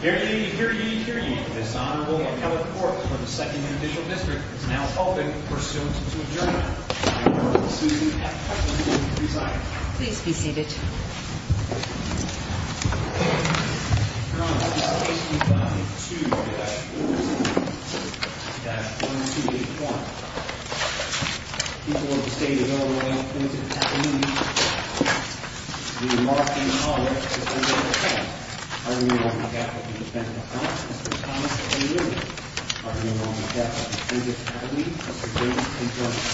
Here ye, here ye, here ye. This Honorable Appellate Court for the 2nd Individual District is now open for suit to adjourn. The Honorable Susan F. Hutchinson will preside. Your Honor, the case number is 2-417-1281. The people of the State of Illinois, the plaintiff's attorney, the remarks being made in the hallway are to the defendant's account. I remain on behalf of the defendant's office, Mr. Thomas A. Lillian. I remain on behalf of the plaintiff's attorney, Mr. James P. Jones.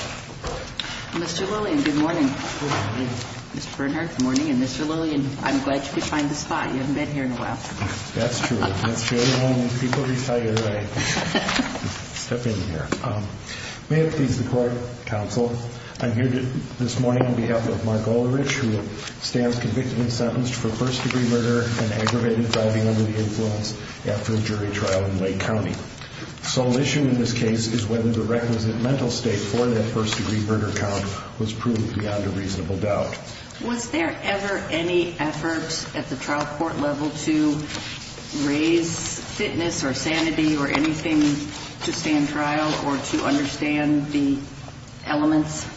Mr. Lillian, good morning. Good morning. Mr. Bernhardt, good morning. And Mr. Lillian, I'm glad you could find the spot. You haven't been here in a while. That's true. That's true. People recite it right. Step in here. May it please the Court, Counsel, I'm here this morning on behalf of Mark Oelerich, who stands convicted and sentenced for first-degree murder and aggravated driving under the influence after a jury trial in Lake County. The sole issue in this case is whether the requisite mental state for that first-degree murder count was proved beyond a reasonable doubt. Was there ever any effort at the trial court level to raise fitness or sanity or anything to stand trial or to understand the elements?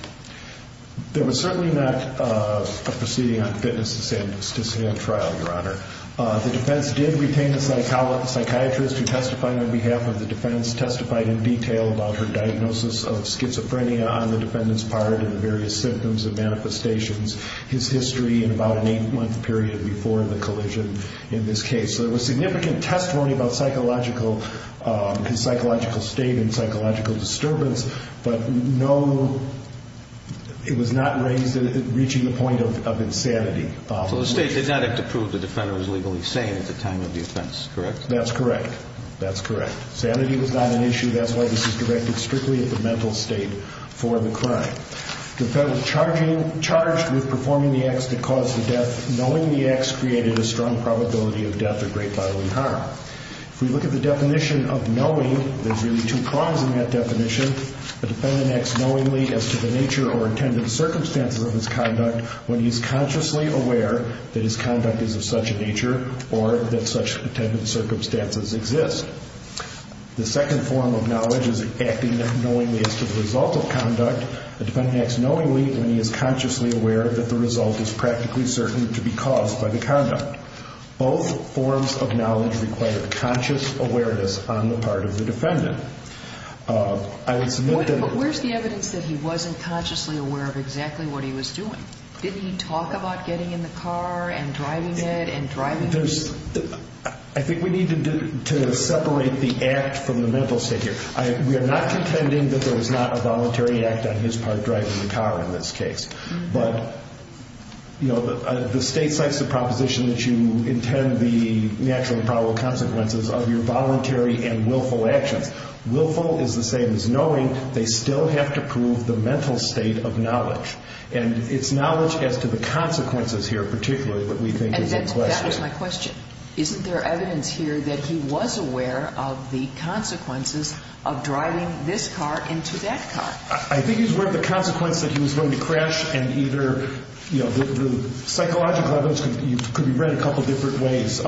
There was certainly not a proceeding on fitness to stand trial, Your Honor. The defense did retain a psychiatrist who testified on behalf of the defense, testified in detail about her diagnosis of schizophrenia on the defendant's part and the various symptoms and manifestations, his history in about an eight-month period before the collision in this case. So there was significant testimony about psychological – his psychological state and psychological disturbance, but no – it was not raised – reaching the point of insanity. So the state did not have to prove the defender was legally sane at the time of the offense, correct? That's correct. That's correct. Sanity was not an issue. That's why this is directed strictly at the mental state for the crime. The defendant charged with performing the acts that caused the death, knowing the acts created a strong probability of death or great bodily harm. If we look at the definition of knowing, there's really two prongs in that definition. The defendant acts knowingly as to the nature or intended circumstances of his conduct when he is consciously aware that his conduct is of such a nature or that such intended circumstances exist. The second form of knowledge is acting knowingly as to the result of conduct. The defendant acts knowingly when he is consciously aware that the result is practically certain to be caused by the conduct. Both forms of knowledge require conscious awareness on the part of the defendant. But where's the evidence that he wasn't consciously aware of exactly what he was doing? Didn't he talk about getting in the car and driving it and driving – There's – I think we need to separate the act from the mental state here. We are not contending that there was not a voluntary act on his part driving the car in this case. But, you know, the state cites the proposition that you intend the natural and probable consequences of your voluntary and willful actions. Willful is the same as knowing. They still have to prove the mental state of knowledge. And it's knowledge as to the consequences here particularly that we think is a question. And that was my question. Isn't there evidence here that he was aware of the consequences of driving this car into that car? I think he was aware of the consequence that he was going to crash and either, you know, the psychological evidence could be read a couple of different ways.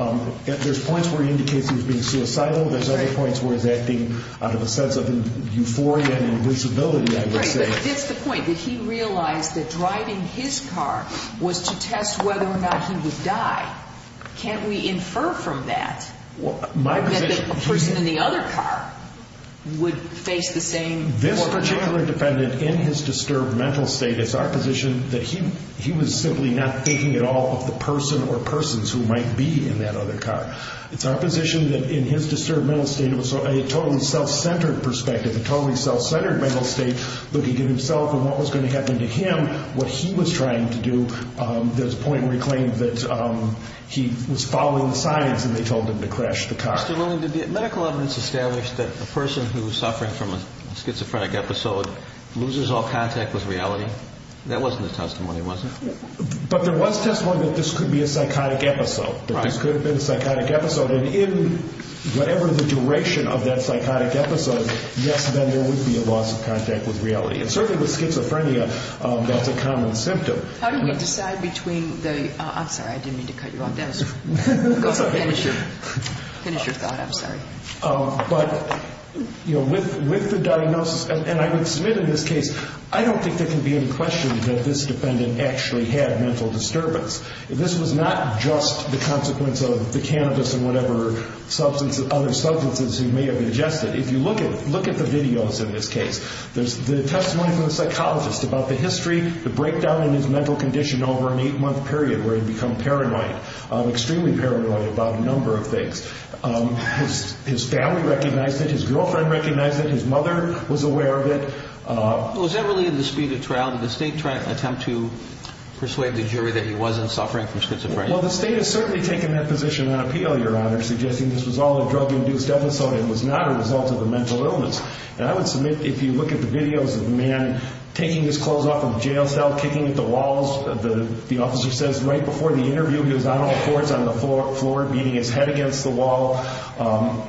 There's points where he indicates he was being suicidal. There's other points where he's acting out of a sense of euphoria and invisibility, I would say. Right, but that's the point, that he realized that driving his car was to test whether or not he would die. Can't we infer from that that the person in the other car would face the same – This particular defendant in his disturbed mental state, it's our position that he was simply not thinking at all of the person or persons who might be in that other car. It's our position that in his disturbed mental state it was a totally self-centered perspective, a totally self-centered mental state looking at himself and what was going to happen to him, what he was trying to do. There's a point where he claimed that he was following the signs and they told him to crash the car. Mr. Willing, did the medical evidence establish that a person who is suffering from a schizophrenic episode loses all contact with reality? That wasn't the testimony, was it? But there was testimony that this could be a psychotic episode, that this could have been a psychotic episode. And in whatever the duration of that psychotic episode, yes, then there would be a loss of contact with reality. And certainly with schizophrenia, that's a common symptom. How do you decide between the – I'm sorry, I didn't mean to cut you off. Go ahead, finish your thought, I'm sorry. But with the diagnosis, and I would submit in this case, I don't think there can be any question that this defendant actually had mental disturbance. This was not just the consequence of the cannabis and whatever other substances he may have ingested. If you look at the videos in this case, there's the testimony from the psychologist about the history, the breakdown in his mental condition over an eight-month period where he'd become paranoid, extremely paranoid about a number of things. His family recognized it, his girlfriend recognized it, his mother was aware of it. Was that really in the speed of trial? Did the state attempt to persuade the jury that he wasn't suffering from schizophrenia? Well, the state has certainly taken that position on appeal, Your Honor, suggesting this was all a drug-induced episode and was not a result of the mental illness. And I would submit if you look at the videos of the man taking his clothes off in the jail cell, kicking at the walls, the officer says right before the interview he was on all fours on the floor, beating his head against the wall.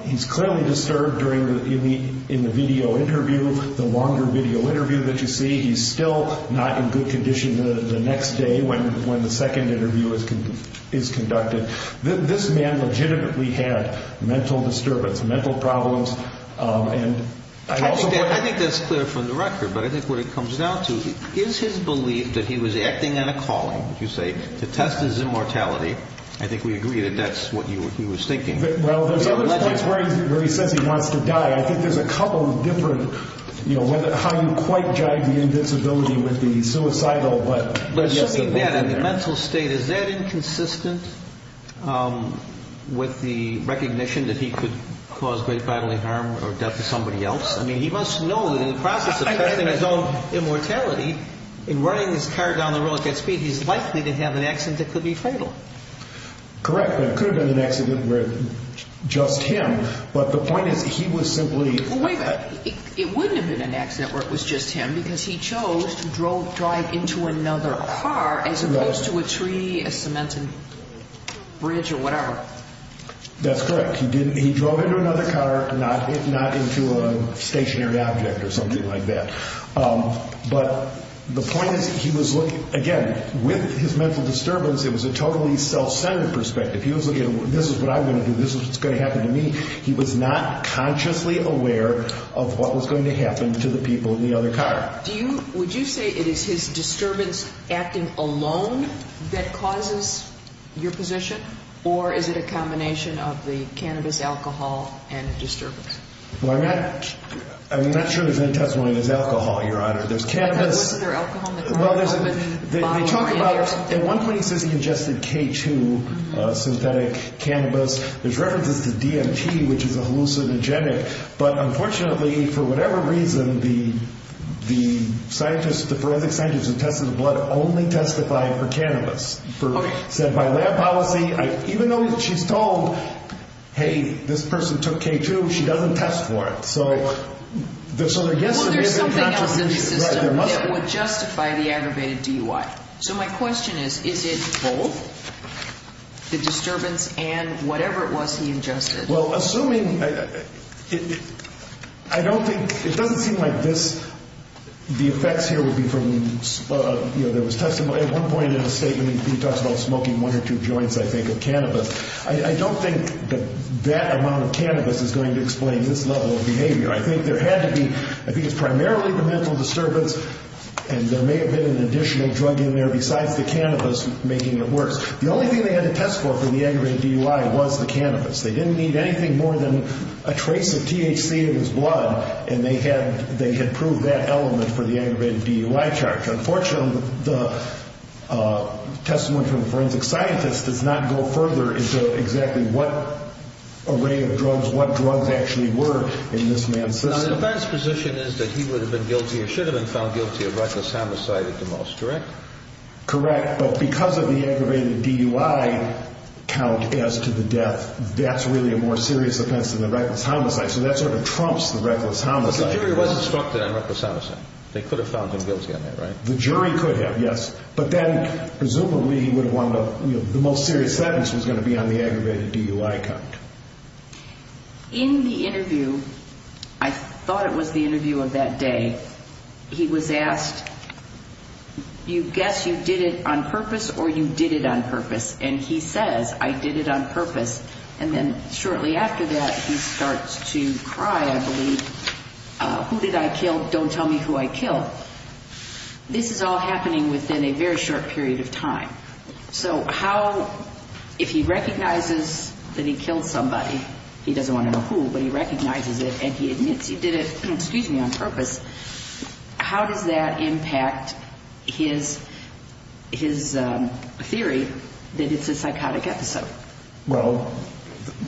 He's clearly disturbed in the video interview, the longer video interview that you see. He's still not in good condition the next day when the second interview is conducted. This man legitimately had mental disturbance, mental problems. I think that's clear from the record, but I think what it comes down to is his belief that he was acting on a calling, you say, to test his immortality. I think we agree that that's what he was thinking. Well, there's other points where he says he wants to die. I think there's a couple of different, you know, how you quite jive the invincibility with the suicidal. Assuming that in the mental state, is that inconsistent with the recognition that he could cause great bodily harm or death to somebody else? I mean, he must know that in the process of testing his own immortality, in running his car down the road at that speed, he's likely to have an accident that could be fatal. Correct, but it could have been an accident where it was just him. But the point is he was simply... Wait a minute. It wouldn't have been an accident where it was just him because he chose to drive into another car as opposed to a tree, a cemented bridge, or whatever. That's correct. He drove into another car, not into a stationary object or something like that. But the point is he was looking... Again, with his mental disturbance, it was a totally self-centered perspective. He was looking at, this is what I'm going to do, this is what's going to happen to me. He was not consciously aware of what was going to happen to the people in the other car. Do you... Would you say it is his disturbance acting alone that causes your position, or is it a combination of the cannabis, alcohol, and disturbance? Well, I'm not sure there's any testimony that it's alcohol, Your Honor. There's cannabis... Was there alcohol in the car? Well, they talk about... At one point he says he ingested K2 synthetic cannabis. There's references to DMT, which is a hallucinogenic. But unfortunately, for whatever reason, the forensic scientists who tested the blood only testified for cannabis. Okay. Said by lab policy, even though she's told, hey, this person took K2, she doesn't test for it. So there's sort of... Well, there's something else in the system that would justify the aggravated DUI. So my question is, is it both the disturbance and whatever it was he ingested? Well, assuming... I don't think... It doesn't seem like this... The effects here would be from... There was testimony... At one point in the statement, he talks about smoking one or two joints, I think, of cannabis. I don't think that that amount of cannabis is going to explain this level of behavior. I think there had to be... I think it's primarily the mental disturbance, and there may have been an additional drug in there besides the cannabis making it worse. The only thing they had to test for for the aggravated DUI was the cannabis. They didn't need anything more than a trace of THC in his blood, and they had proved that element for the aggravated DUI charge. Unfortunately, the testimony from the forensic scientist does not go further into exactly what array of drugs, what drugs actually were in this man's system. Now, the defense position is that he would have been guilty or should have been found guilty of reckless homicide at the most, correct? Correct, but because of the aggravated DUI count as to the death, that's really a more serious offense than the reckless homicide, so that sort of trumps the reckless homicide. But the jury was instructed on reckless homicide. They could have found him guilty on that, right? The jury could have, yes. But then, presumably, the most serious sentence was going to be on the aggravated DUI count. In the interview, I thought it was the interview of that day, he was asked, you guess you did it on purpose or you did it on purpose? And he says, I did it on purpose. Who did I kill? Don't tell me who I killed. This is all happening within a very short period of time. So how, if he recognizes that he killed somebody, he doesn't want to know who, but he recognizes it and he admits he did it on purpose, how does that impact his theory that it's a psychotic episode? Well,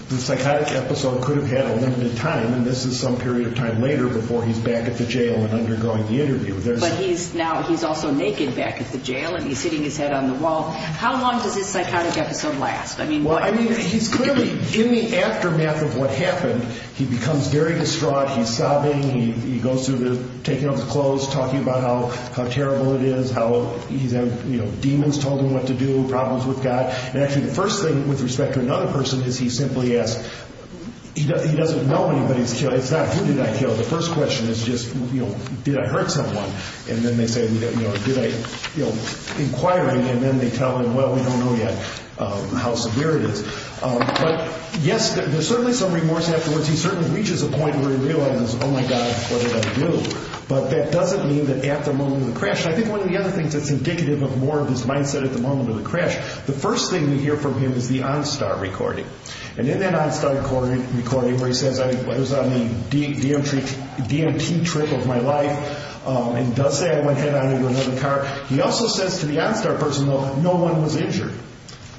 the psychotic episode could have had a limited time, and this is some period of time later before he's back at the jail and undergoing the interview. But he's now, he's also naked back at the jail and he's hitting his head on the wall. How long does this psychotic episode last? Well, I mean, he's clearly, in the aftermath of what happened, he becomes very distraught. He's sobbing, he goes through taking off his clothes, talking about how terrible it is, how he's had, you know, demons told him what to do, problems with God. And actually the first thing, with respect to another person, is he simply asks, he doesn't know anybody's killer, it's not, who did I kill? The first question is just, you know, did I hurt someone? And then they say, you know, did I, you know, inquire, and then they tell him, well, we don't know yet how severe it is. But yes, there's certainly some remorse afterwards. He certainly reaches a point where he realizes, oh my God, what did I do? But that doesn't mean that at the moment of the crash, and I think one of the other things that's indicative of more of his mindset at the moment of the crash, the first thing we hear from him is the OnStar recording. And in that OnStar recording where he says I was on the DMT trip of my life and does say I went head-on into another car, he also says to the OnStar person, well, no one was injured.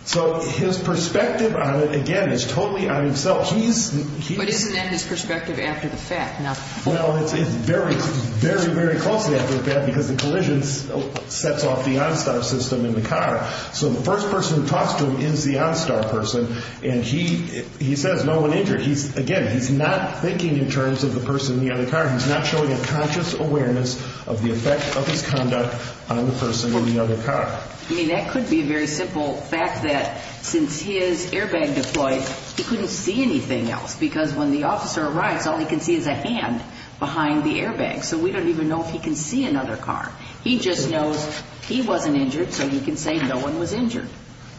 So his perspective on it, again, is totally on himself. But isn't that his perspective after the fact? Well, it's very, very, very closely after the fact because the collision sets off the OnStar system in the car. So the first person who talks to him is the OnStar person, and he says no one injured. Again, he's not thinking in terms of the person in the other car. He's not showing a conscious awareness of the effect of his conduct on the person in the other car. I mean, that could be a very simple fact that since his airbag deployed, he couldn't see anything else because when the officer arrives, all he can see is a hand behind the airbag. So we don't even know if he can see another car. He just knows he wasn't injured, so he can say no one was injured.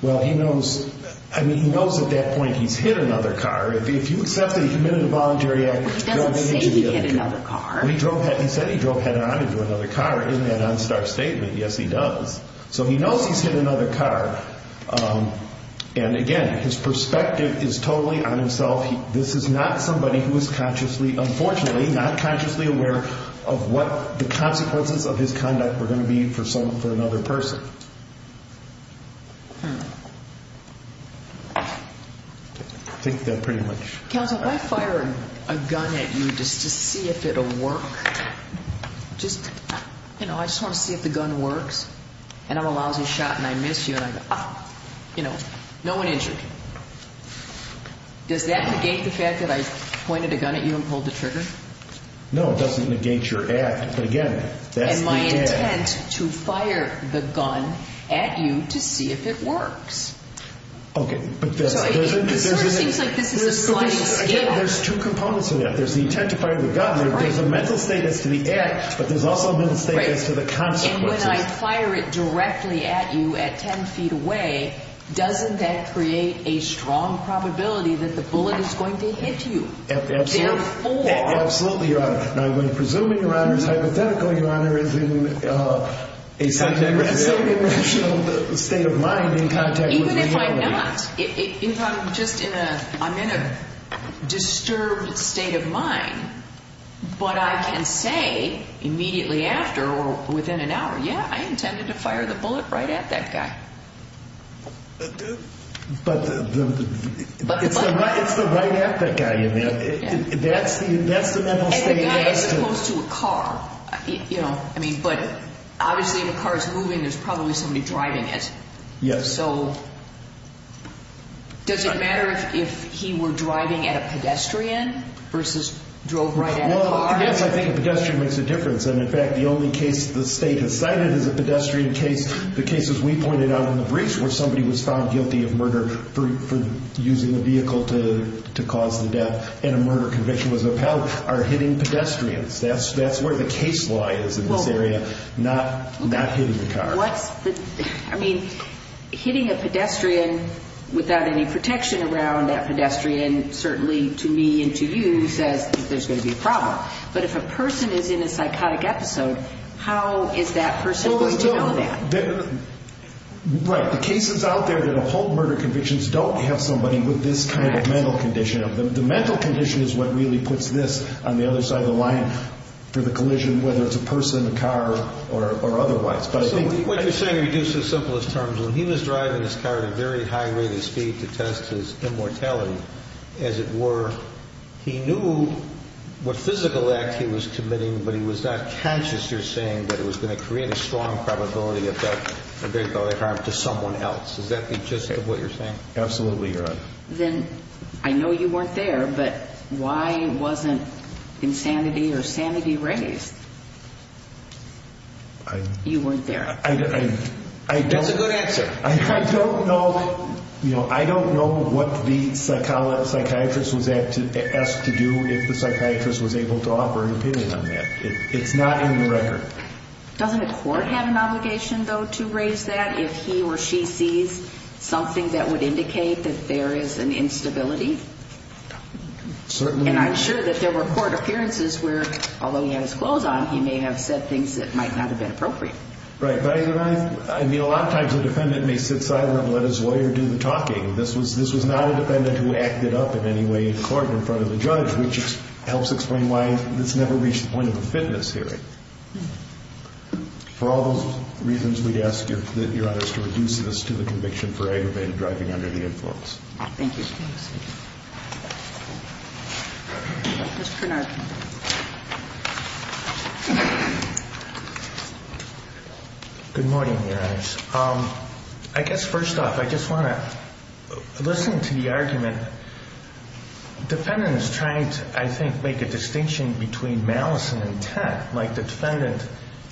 Well, he knows. I mean, he knows at that point he's hit another car. If you accept that he committed a voluntary act, he doesn't say he hit another car. He said he drove head-on into another car in that OnStar statement. Yes, he does. So he knows he's hit another car. And, again, his perspective is totally on himself. This is not somebody who is consciously, unfortunately, not consciously aware of what the consequences of his conduct were going to be for another person. I think that pretty much. Counsel, if I fire a gun at you just to see if it will work, just, you know, I just want to see if the gun works, and I'm a lousy shot and I miss you and I go, you know, no one injured, does that negate the fact that I pointed a gun at you and pulled the trigger? No, it doesn't negate your act. But, again, that's the act. And my intent to fire the gun at you to see if it works. Okay. It sort of seems like this is a sliding scale. Again, there's two components to that. There's the intent to fire the gun. There's a mental state as to the act, but there's also a mental state as to the consequences. And when I fire it directly at you at 10 feet away, doesn't that create a strong probability that the bullet is going to hit you? Absolutely, Your Honor. Now, I'm going to presume, Your Honor, it's hypothetical, Your Honor, is in a semi-irrational state of mind in contact with me. Even if I'm not. Even if I'm just in a disturbed state of mind, but I can say immediately after or within an hour, yeah, I intended to fire the bullet right at that guy. But it's the right at that guy. That's the mental state. And the guy is close to a car. You know, I mean, but obviously if a car is moving, there's probably somebody driving it. Yes. And so does it matter if he were driving at a pedestrian versus drove right at a car? Well, yes, I think a pedestrian makes a difference. And, in fact, the only case the state has cited is a pedestrian case. The cases we pointed out in the briefs where somebody was found guilty of murder for using a vehicle to cause the death and a murder conviction was upheld are hitting pedestrians. That's where the case law is in this area, not hitting the car. I mean, hitting a pedestrian without any protection around that pedestrian, certainly to me and to you says there's going to be a problem. But if a person is in a psychotic episode, how is that person going to know that? Right. The cases out there that uphold murder convictions don't have somebody with this kind of mental condition. The mental condition is what really puts this on the other side of the line for the collision, whether it's a person, a car, or otherwise. What you're saying reduces simplest terms. When he was driving his car at a very high rate of speed to test his immortality, as it were, he knew what physical act he was committing, but he was not conscious, you're saying, that it was going to create a strong probability of a great deal of harm to someone else. Does that be just what you're saying? Absolutely, Your Honor. Then I know you weren't there, but why wasn't insanity or sanity raised? You weren't there. That's a good answer. I don't know what the psychiatrist was asked to do if the psychiatrist was able to offer an opinion on that. It's not in the record. Doesn't the court have an obligation, though, to raise that if he or she sees something that would indicate that there is an instability? Certainly. And I'm sure that there were court appearances where, although he had his clothes on, he may have said things that might not have been appropriate. Right. I mean, a lot of times a defendant may sit silent and let his lawyer do the talking. This was not a defendant who acted up in any way in court in front of the judge, which helps explain why this never reached the point of a fitness hearing. For all those reasons, we'd ask that Your Honor is to reduce this to the conviction for aggravated driving under the influence. Thank you. Mr. Kornar. Good morning, Your Honors. I guess first off, I just want to listen to the argument. The defendant is trying to, I think, make a distinction between malice and intent, like the defendant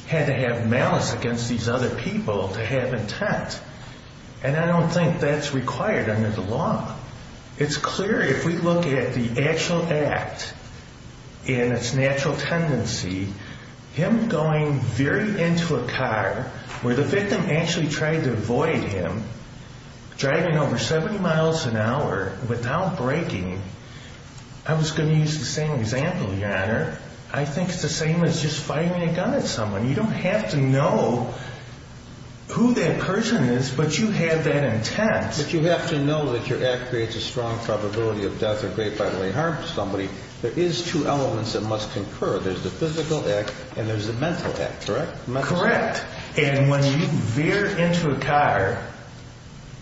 had to have malice against these other people to have intent. And I don't think that's required under the law. It's clear if we look at the actual act and its natural tendency, him going very into a car where the victim actually tried to avoid him, driving over 70 miles an hour without braking. I was going to use the same example, Your Honor. I think it's the same as just firing a gun at someone. You don't have to know who that person is, but you have that intent. But you have to know that your act creates a strong probability of death or great bodily harm to somebody. There is two elements that must concur. There's the physical act and there's the mental act, correct? Correct. And when you veer into a car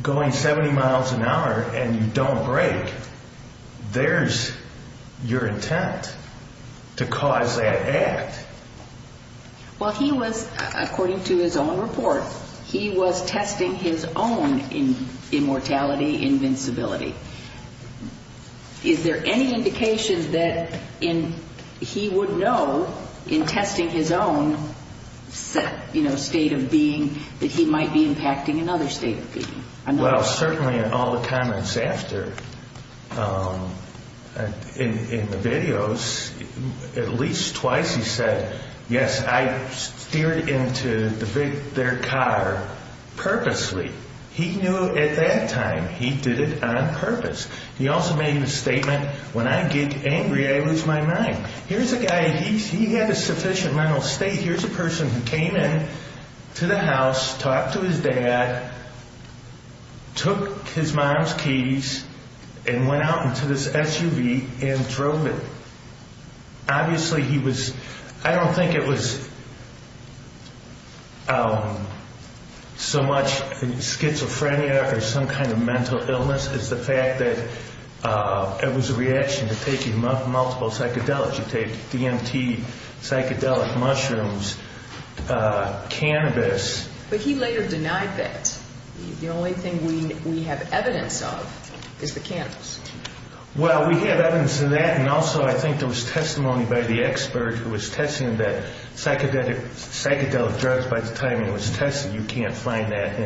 going 70 miles an hour and you don't brake, there's your intent to cause that act. Well, he was, according to his own report, he was testing his own immortality, invincibility. Is there any indication that he would know in testing his own state of being that he might be impacting another state of being? Well, certainly in all the comments after, in the videos, at least twice he said, yes, I steered into their car purposely. He knew at that time he did it on purpose. He also made the statement, when I get angry, I lose my mind. Here's a guy, he had a sufficient mental state. Here's a person who came in to the house, talked to his dad, took his mom's keys and went out into this SUV and drove it. Obviously he was, I don't think it was so much schizophrenia or some kind of mental illness as the fact that it was a reaction to taking multiple psychedelics. You take DMT, psychedelic mushrooms, cannabis. But he later denied that. The only thing we have evidence of is the cannabis. Well, we have evidence of that, and also I think there was testimony by the expert who was testing that psychedelic drugs, by the time it was tested, you can't find that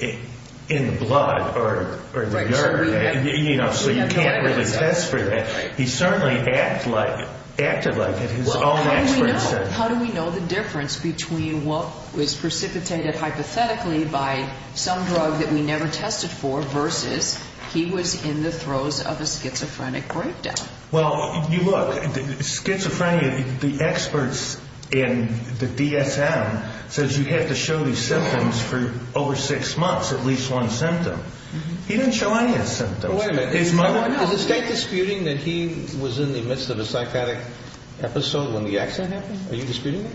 in the blood or the urine. So you can't really test for that. He certainly acted like it, his own expert said. How do we know the difference between what was precipitated hypothetically by some drug that we never tested for versus he was in the throes of a schizophrenic breakdown? Well, you look, schizophrenia, the experts in the DSM says you have to show these symptoms for over six months, at least one symptom. He didn't show any of his symptoms. Is the state disputing that he was in the midst of a psychotic episode when the accident happened? Are you disputing that?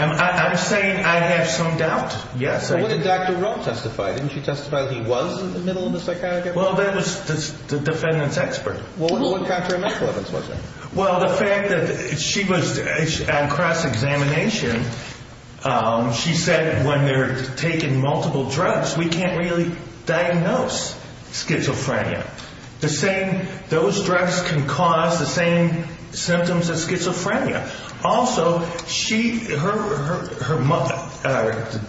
I'm saying I have some doubt, yes. What did Dr. Rowe testify? Didn't she testify that he was in the middle of a psychotic episode? Well, that was the defendant's expert. Well, what contraindications was it? Well, the fact that she was on cross-examination, she said when they're taking multiple drugs, we can't really diagnose schizophrenia. Those drugs can cause the same symptoms as schizophrenia. Also, the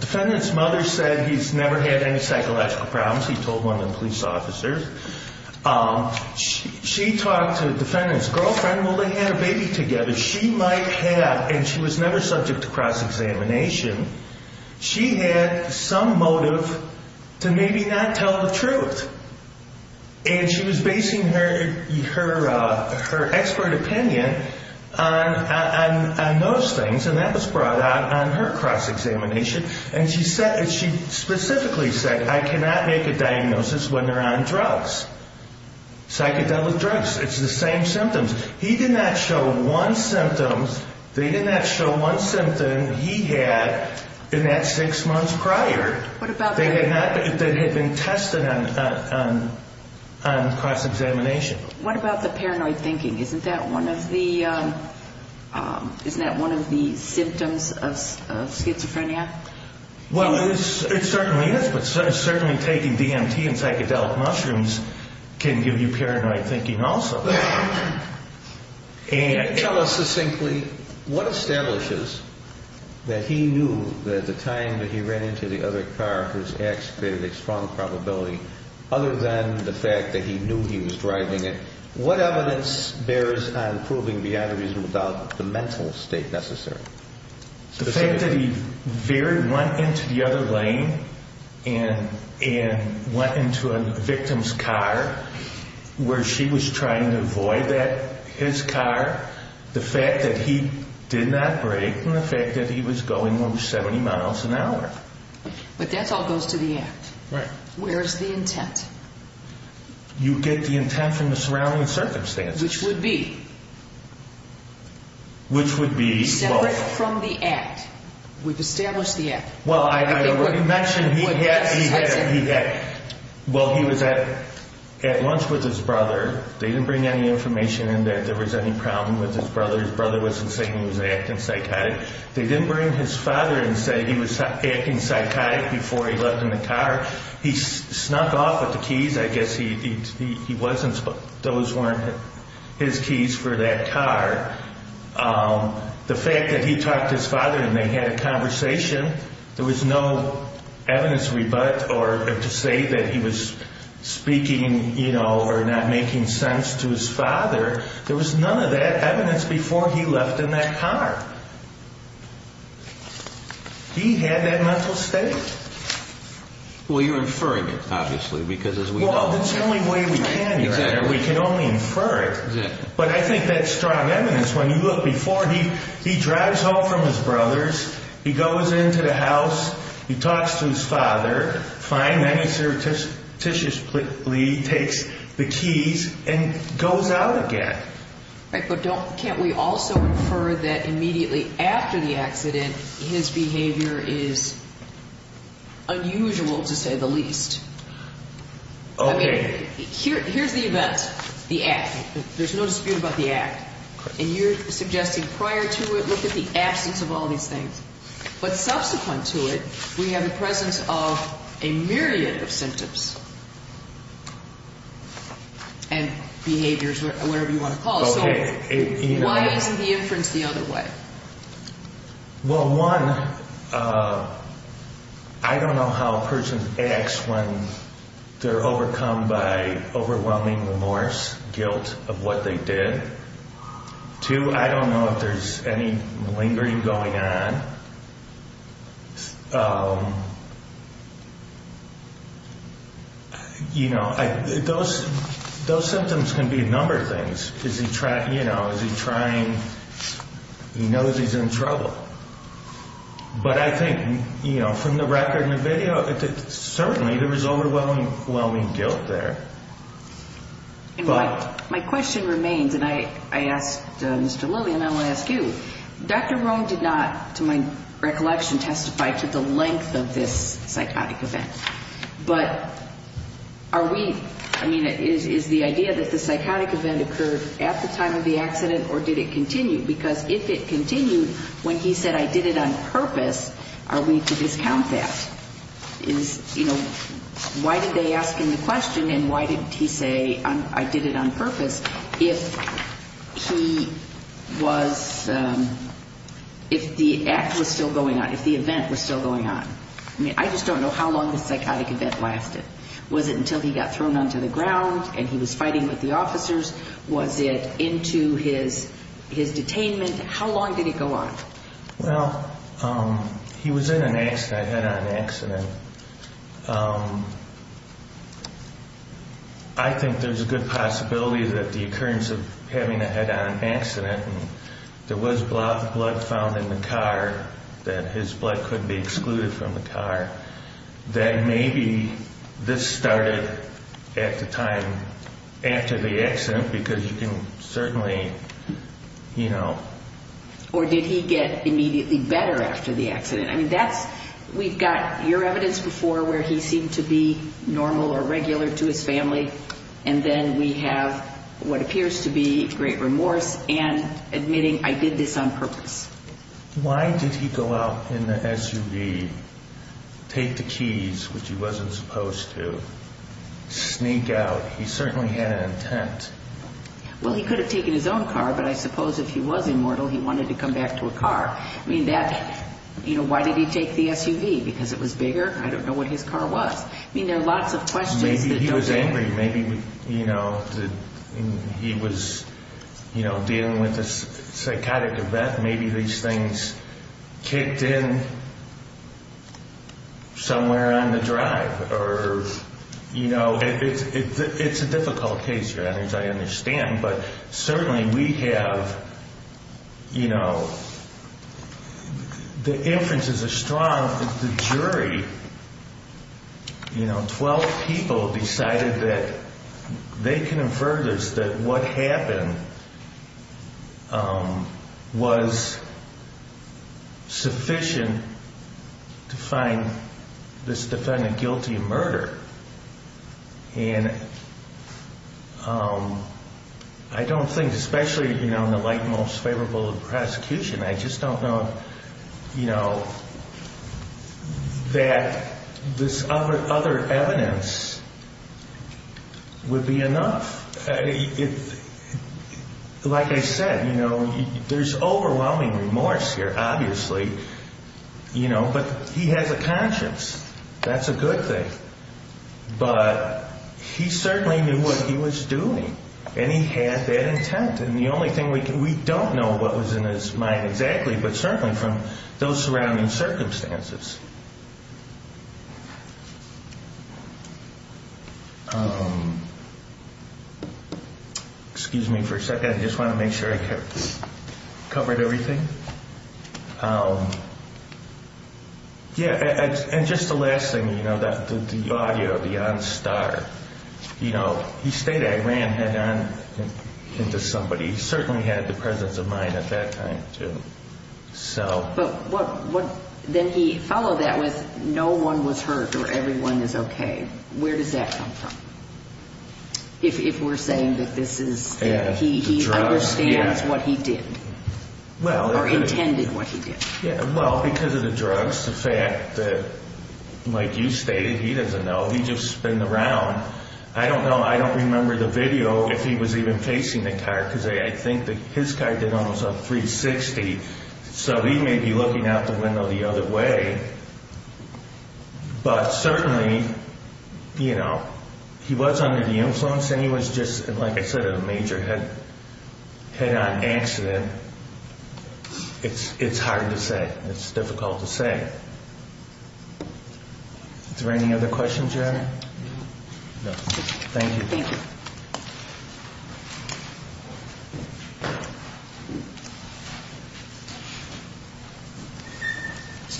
defendant's mother said he's never had any psychological problems. He told one of the police officers. She talked to the defendant's girlfriend. Well, they had a baby together. She might have, and she was never subject to cross-examination. She had some motive to maybe not tell the truth. And she was basing her expert opinion on those things, and that was brought out on her cross-examination. And she specifically said, I cannot make a diagnosis when they're on drugs, psychedelic drugs. It's the same symptoms. He did not show one symptom. They did not show one symptom he had in that six months prior. What about that? That had been tested on cross-examination. What about the paranoid thinking? Isn't that one of the symptoms of schizophrenia? Well, it certainly is, but certainly taking DMT and psychedelic mushrooms can give you paranoid thinking also. Tell us succinctly what establishes that he knew that the time that he ran into the other car, his ax created a strong probability, other than the fact that he knew he was driving it. What evidence bears on proving the aneurysm without the mental state necessary? The fact that he went into the other lane and went into a victim's car where she was trying to avoid his car, the fact that he did not brake, and the fact that he was going over 70 miles an hour. But that all goes to the act. Right. Where is the intent? You get the intent from the surrounding circumstances. Which would be? Which would be? Separate from the act. We've established the act. Well, I already mentioned he had, well, he was at lunch with his brother. They didn't bring any information in that there was any problem with his brother. His brother wasn't saying he was acting psychotic. They didn't bring his father and say he was acting psychotic before he left in the car. He snuck off with the keys. I guess he wasn't. Those weren't his keys for that car. The fact that he talked to his father and they had a conversation, there was no evidence rebut or to say that he was speaking, you know, or not making sense to his father. There was none of that evidence before he left in that car. He had that mental state. Well, you're inferring it, obviously, because as we know. Well, that's the only way we can, Your Honor. Exactly. We can only infer it. Exactly. But I think that's strong evidence. When you look before, he drives home from his brother's. He goes into the house. He talks to his father. Takes the keys and goes out again. But can't we also infer that immediately after the accident, his behavior is unusual to say the least? Okay. Here's the event, the act. There's no dispute about the act. And you're suggesting prior to it, look at the absence of all these things. But subsequent to it, we have the presence of a myriad of symptoms and behaviors, whatever you want to call it. So why isn't the inference the other way? Well, one, I don't know how a person acts when they're overcome by overwhelming remorse, guilt of what they did. Two, I don't know if there's any lingering going on. You know, those symptoms can be a number of things. You know, is he trying? He knows he's in trouble. But I think, you know, from the record in the video, certainly there is overwhelming guilt there. But my question remains, and I asked Mr. Lillian, I want to ask you, Dr. Rome did not, to my recollection, testify to the length of this psychotic event. But are we ñ I mean, is the idea that the psychotic event occurred at the time of the accident or did it continue? Because if it continued when he said, I did it on purpose, are we to discount that? You know, why did they ask him the question and why did he say, I did it on purpose, if he was, if the act was still going on, if the event was still going on? I mean, I just don't know how long the psychotic event lasted. Was it until he got thrown onto the ground and he was fighting with the officers? Was it into his detainment? How long did it go on? Well, he was in an accident, a head-on accident. I think there's a good possibility that the occurrence of having a head-on accident and there was blood found in the car, that his blood could be excluded from the car, that maybe this started at the time after the accident because you can certainly, you know. Or did he get immediately better after the accident? I mean, that's, we've got your evidence before where he seemed to be normal or regular to his family and then we have what appears to be great remorse and admitting, I did this on purpose. Why did he go out in the SUV, take the keys, which he wasn't supposed to, sneak out? He certainly had an intent. Well, he could have taken his own car, but I suppose if he was immortal, he wanted to come back to a car. I mean, that, you know, why did he take the SUV? Because it was bigger? I don't know what his car was. I mean, there are lots of questions that don't answer. Maybe he was angry. Maybe, you know, he was, you know, dealing with a psychotic event. Maybe these things kicked in somewhere on the drive or, you know. It's a difficult case, Your Honor, as I understand. But certainly we have, you know, the inferences are strong. The jury, you know, 12 people decided that they can infer this, that what happened was sufficient to find this defendant guilty of murder. And I don't think, especially, you know, in the light most favorable of prosecution, I just don't know, you know, that this other evidence would be enough. Like I said, you know, there's overwhelming remorse here, obviously, you know. But he has a conscience. That's a good thing. But he certainly knew what he was doing, and he had that intent. And the only thing we don't know what was in his mind exactly, but certainly from those surrounding circumstances. Excuse me for a second. I just want to make sure I covered everything. Yeah, and just the last thing, you know, the audio of the on-star. You know, he stated I ran head on into somebody. He certainly had the presence of mind at that time, too. But then he followed that with no one was hurt or everyone is okay. Where does that come from? If we're saying that this is, he understands what he did or intended what he did. Well, because of the drugs, the fact that, like you stated, he doesn't know. He just been around. I don't know. I don't remember the video if he was even facing the car, because I think his car did almost a 360. So he may be looking out the window the other way. But certainly, you know, he was under the influence, and he was just, like I said, a major head-on accident. It's hard to say. It's difficult to say. Is there any other questions, Jan? No. Thank you. Thank you.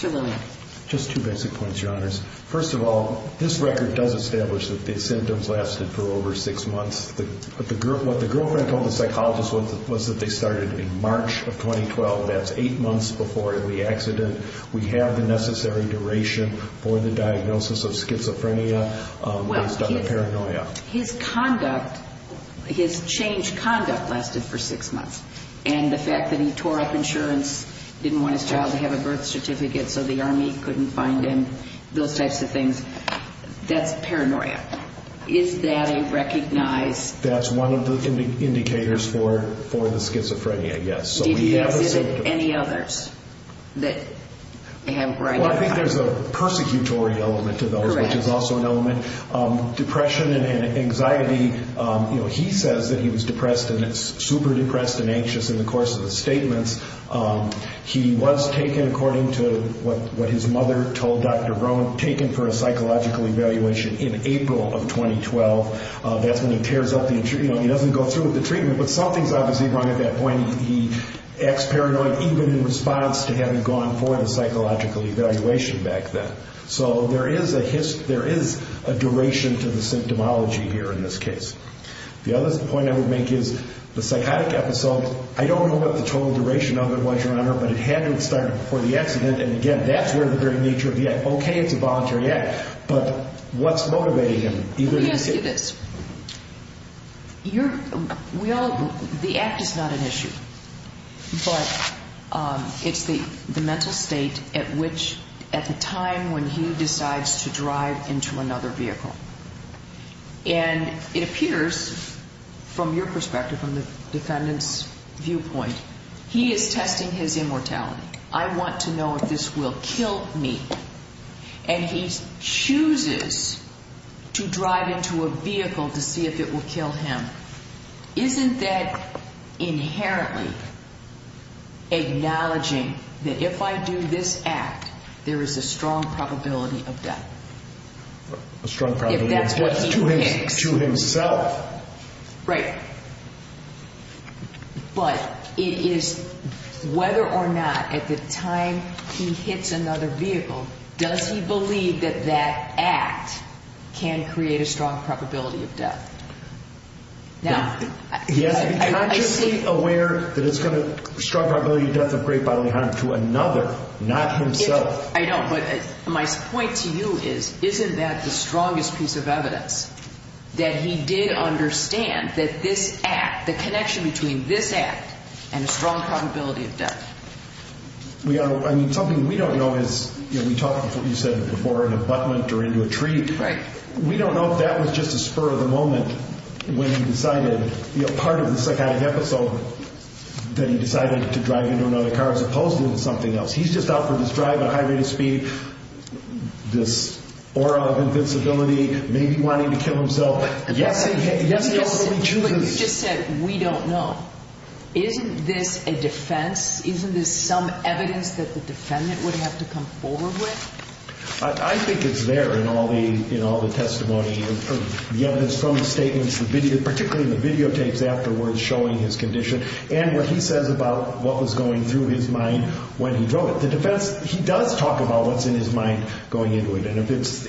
Mr. Lillian. Just two basic points, Your Honors. First of all, this record does establish that the symptoms lasted for over six months. What the girlfriend told the psychologist was that they started in March of 2012. That's eight months before the accident. We have the necessary duration for the diagnosis of schizophrenia based on the paranoia. Well, his conduct, his changed conduct lasted for six months. And the fact that he tore up insurance, didn't want his child to have a birth certificate so the Army couldn't find him, those types of things, that's paranoia. Is that a recognized? That's one of the indicators for the schizophrenia, yes. Did he exhibit any others? Well, I think there's a persecutory element to those, which is also an element. Depression and anxiety, he says that he was depressed and super depressed and anxious in the course of the statements. He was taken, according to what his mother told Dr. Brown, taken for a psychological evaluation in April of 2012. That's when he tears up the insurance. He doesn't go through with the treatment, but something's obviously wrong at that point. He acts paranoid even in response to having gone for the psychological evaluation back then. So there is a duration to the symptomology here in this case. The other point I would make is the psychotic episode, I don't know what the total duration of it was, Your Honor, but it had to have started before the accident. And, again, that's where the very nature of the act. Okay, it's a voluntary act, but what's motivating him? Let me ask you this. The act is not an issue, but it's the mental state at the time when he decides to drive into another vehicle. And it appears, from your perspective, from the defendant's viewpoint, he is testing his immortality. I want to know if this will kill me. And he chooses to drive into a vehicle to see if it will kill him. Isn't that inherently acknowledging that if I do this act, there is a strong probability of death? A strong probability of what? If that's what he picks. To himself. Right. But it is, whether or not, at the time he hits another vehicle, does he believe that that act can create a strong probability of death? He has to be consciously aware that it's got a strong probability of death of great bodily harm to another, not himself. I know, but my point to you is, isn't that the strongest piece of evidence? That he did understand that this act, the connection between this act and a strong probability of death. We are, I mean, something we don't know is, you know, we talked before, you said before, an abutment or into a tree. Right. We don't know if that was just a spur of the moment when he decided, you know, part of the psychotic episode, that he decided to drive into another car as opposed to something else. He's just out for this drive at a high rate of speed, this aura of invincibility, maybe wanting to kill himself. Yes, he also rejuvenates. You just said, we don't know. Isn't this a defense? Isn't this some evidence that the defendant would have to come forward with? I think it's there in all the, you know, the testimony, the evidence from the statements, particularly the videotapes afterwards showing his condition, and what he says about what was going through his mind when he drove it. The defense, he does talk about what's in his mind going into it, and if it's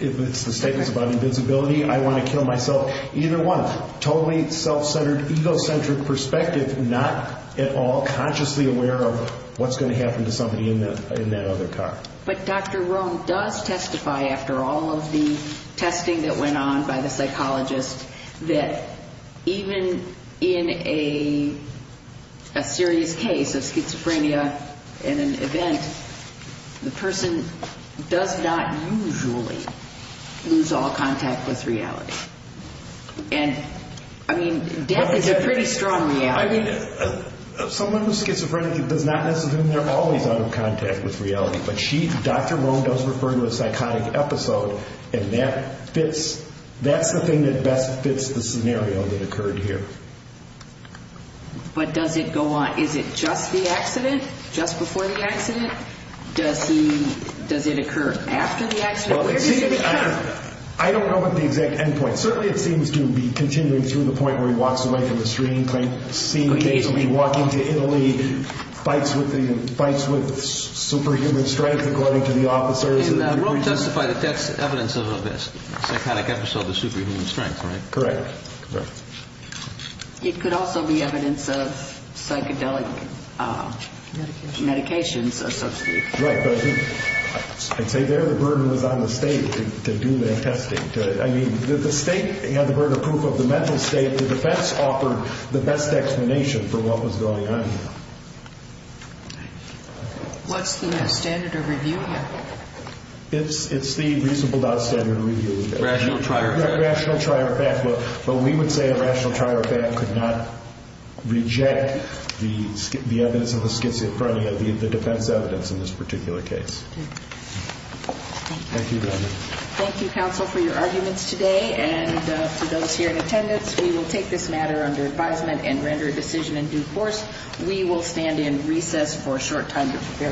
the statements about invincibility, I want to kill myself, either one. Totally self-centered, egocentric perspective, not at all consciously aware of what's going to happen to somebody in that other car. But Dr. Rome does testify after all of the testing that went on by the psychologist that even in a serious case of schizophrenia in an event, the person does not usually lose all contact with reality. And, I mean, death is a pretty strong reality. I mean, someone with schizophrenia does not necessarily mean they're always out of contact with reality, but she, Dr. Rome, does refer to a psychotic episode, and that fits, that's the thing that best fits the scenario that occurred here. But does it go on, is it just the accident? Just before the accident? Does he, does it occur after the accident? I don't know the exact end point. Certainly it seems to be continuing through the point where he walks away from the screen, seems to be walking to Italy, fights with superhuman strength, according to the officers. And Rome testified that that's evidence of a psychotic episode of superhuman strength, right? Correct. It could also be evidence of psychedelic medications or something. Right, but I think, I'd say there the burden was on the state to do that testing. I mean, the state had the burden of proof of the mental state. The defense offered the best explanation for what was going on here. What's the standard of review here? It's the reasonable doubt standard of review. Rational trier effect. Rational trier effect. But we would say a rational trier effect could not reject the evidence of a schizophrenia, the defense evidence in this particular case. Thank you. Thank you, Governor. Thank you, counsel, for your arguments today. And to those here in attendance, we will take this matter under advisement and render a decision in due course. We will stand in recess for a short time to prepare for the next case.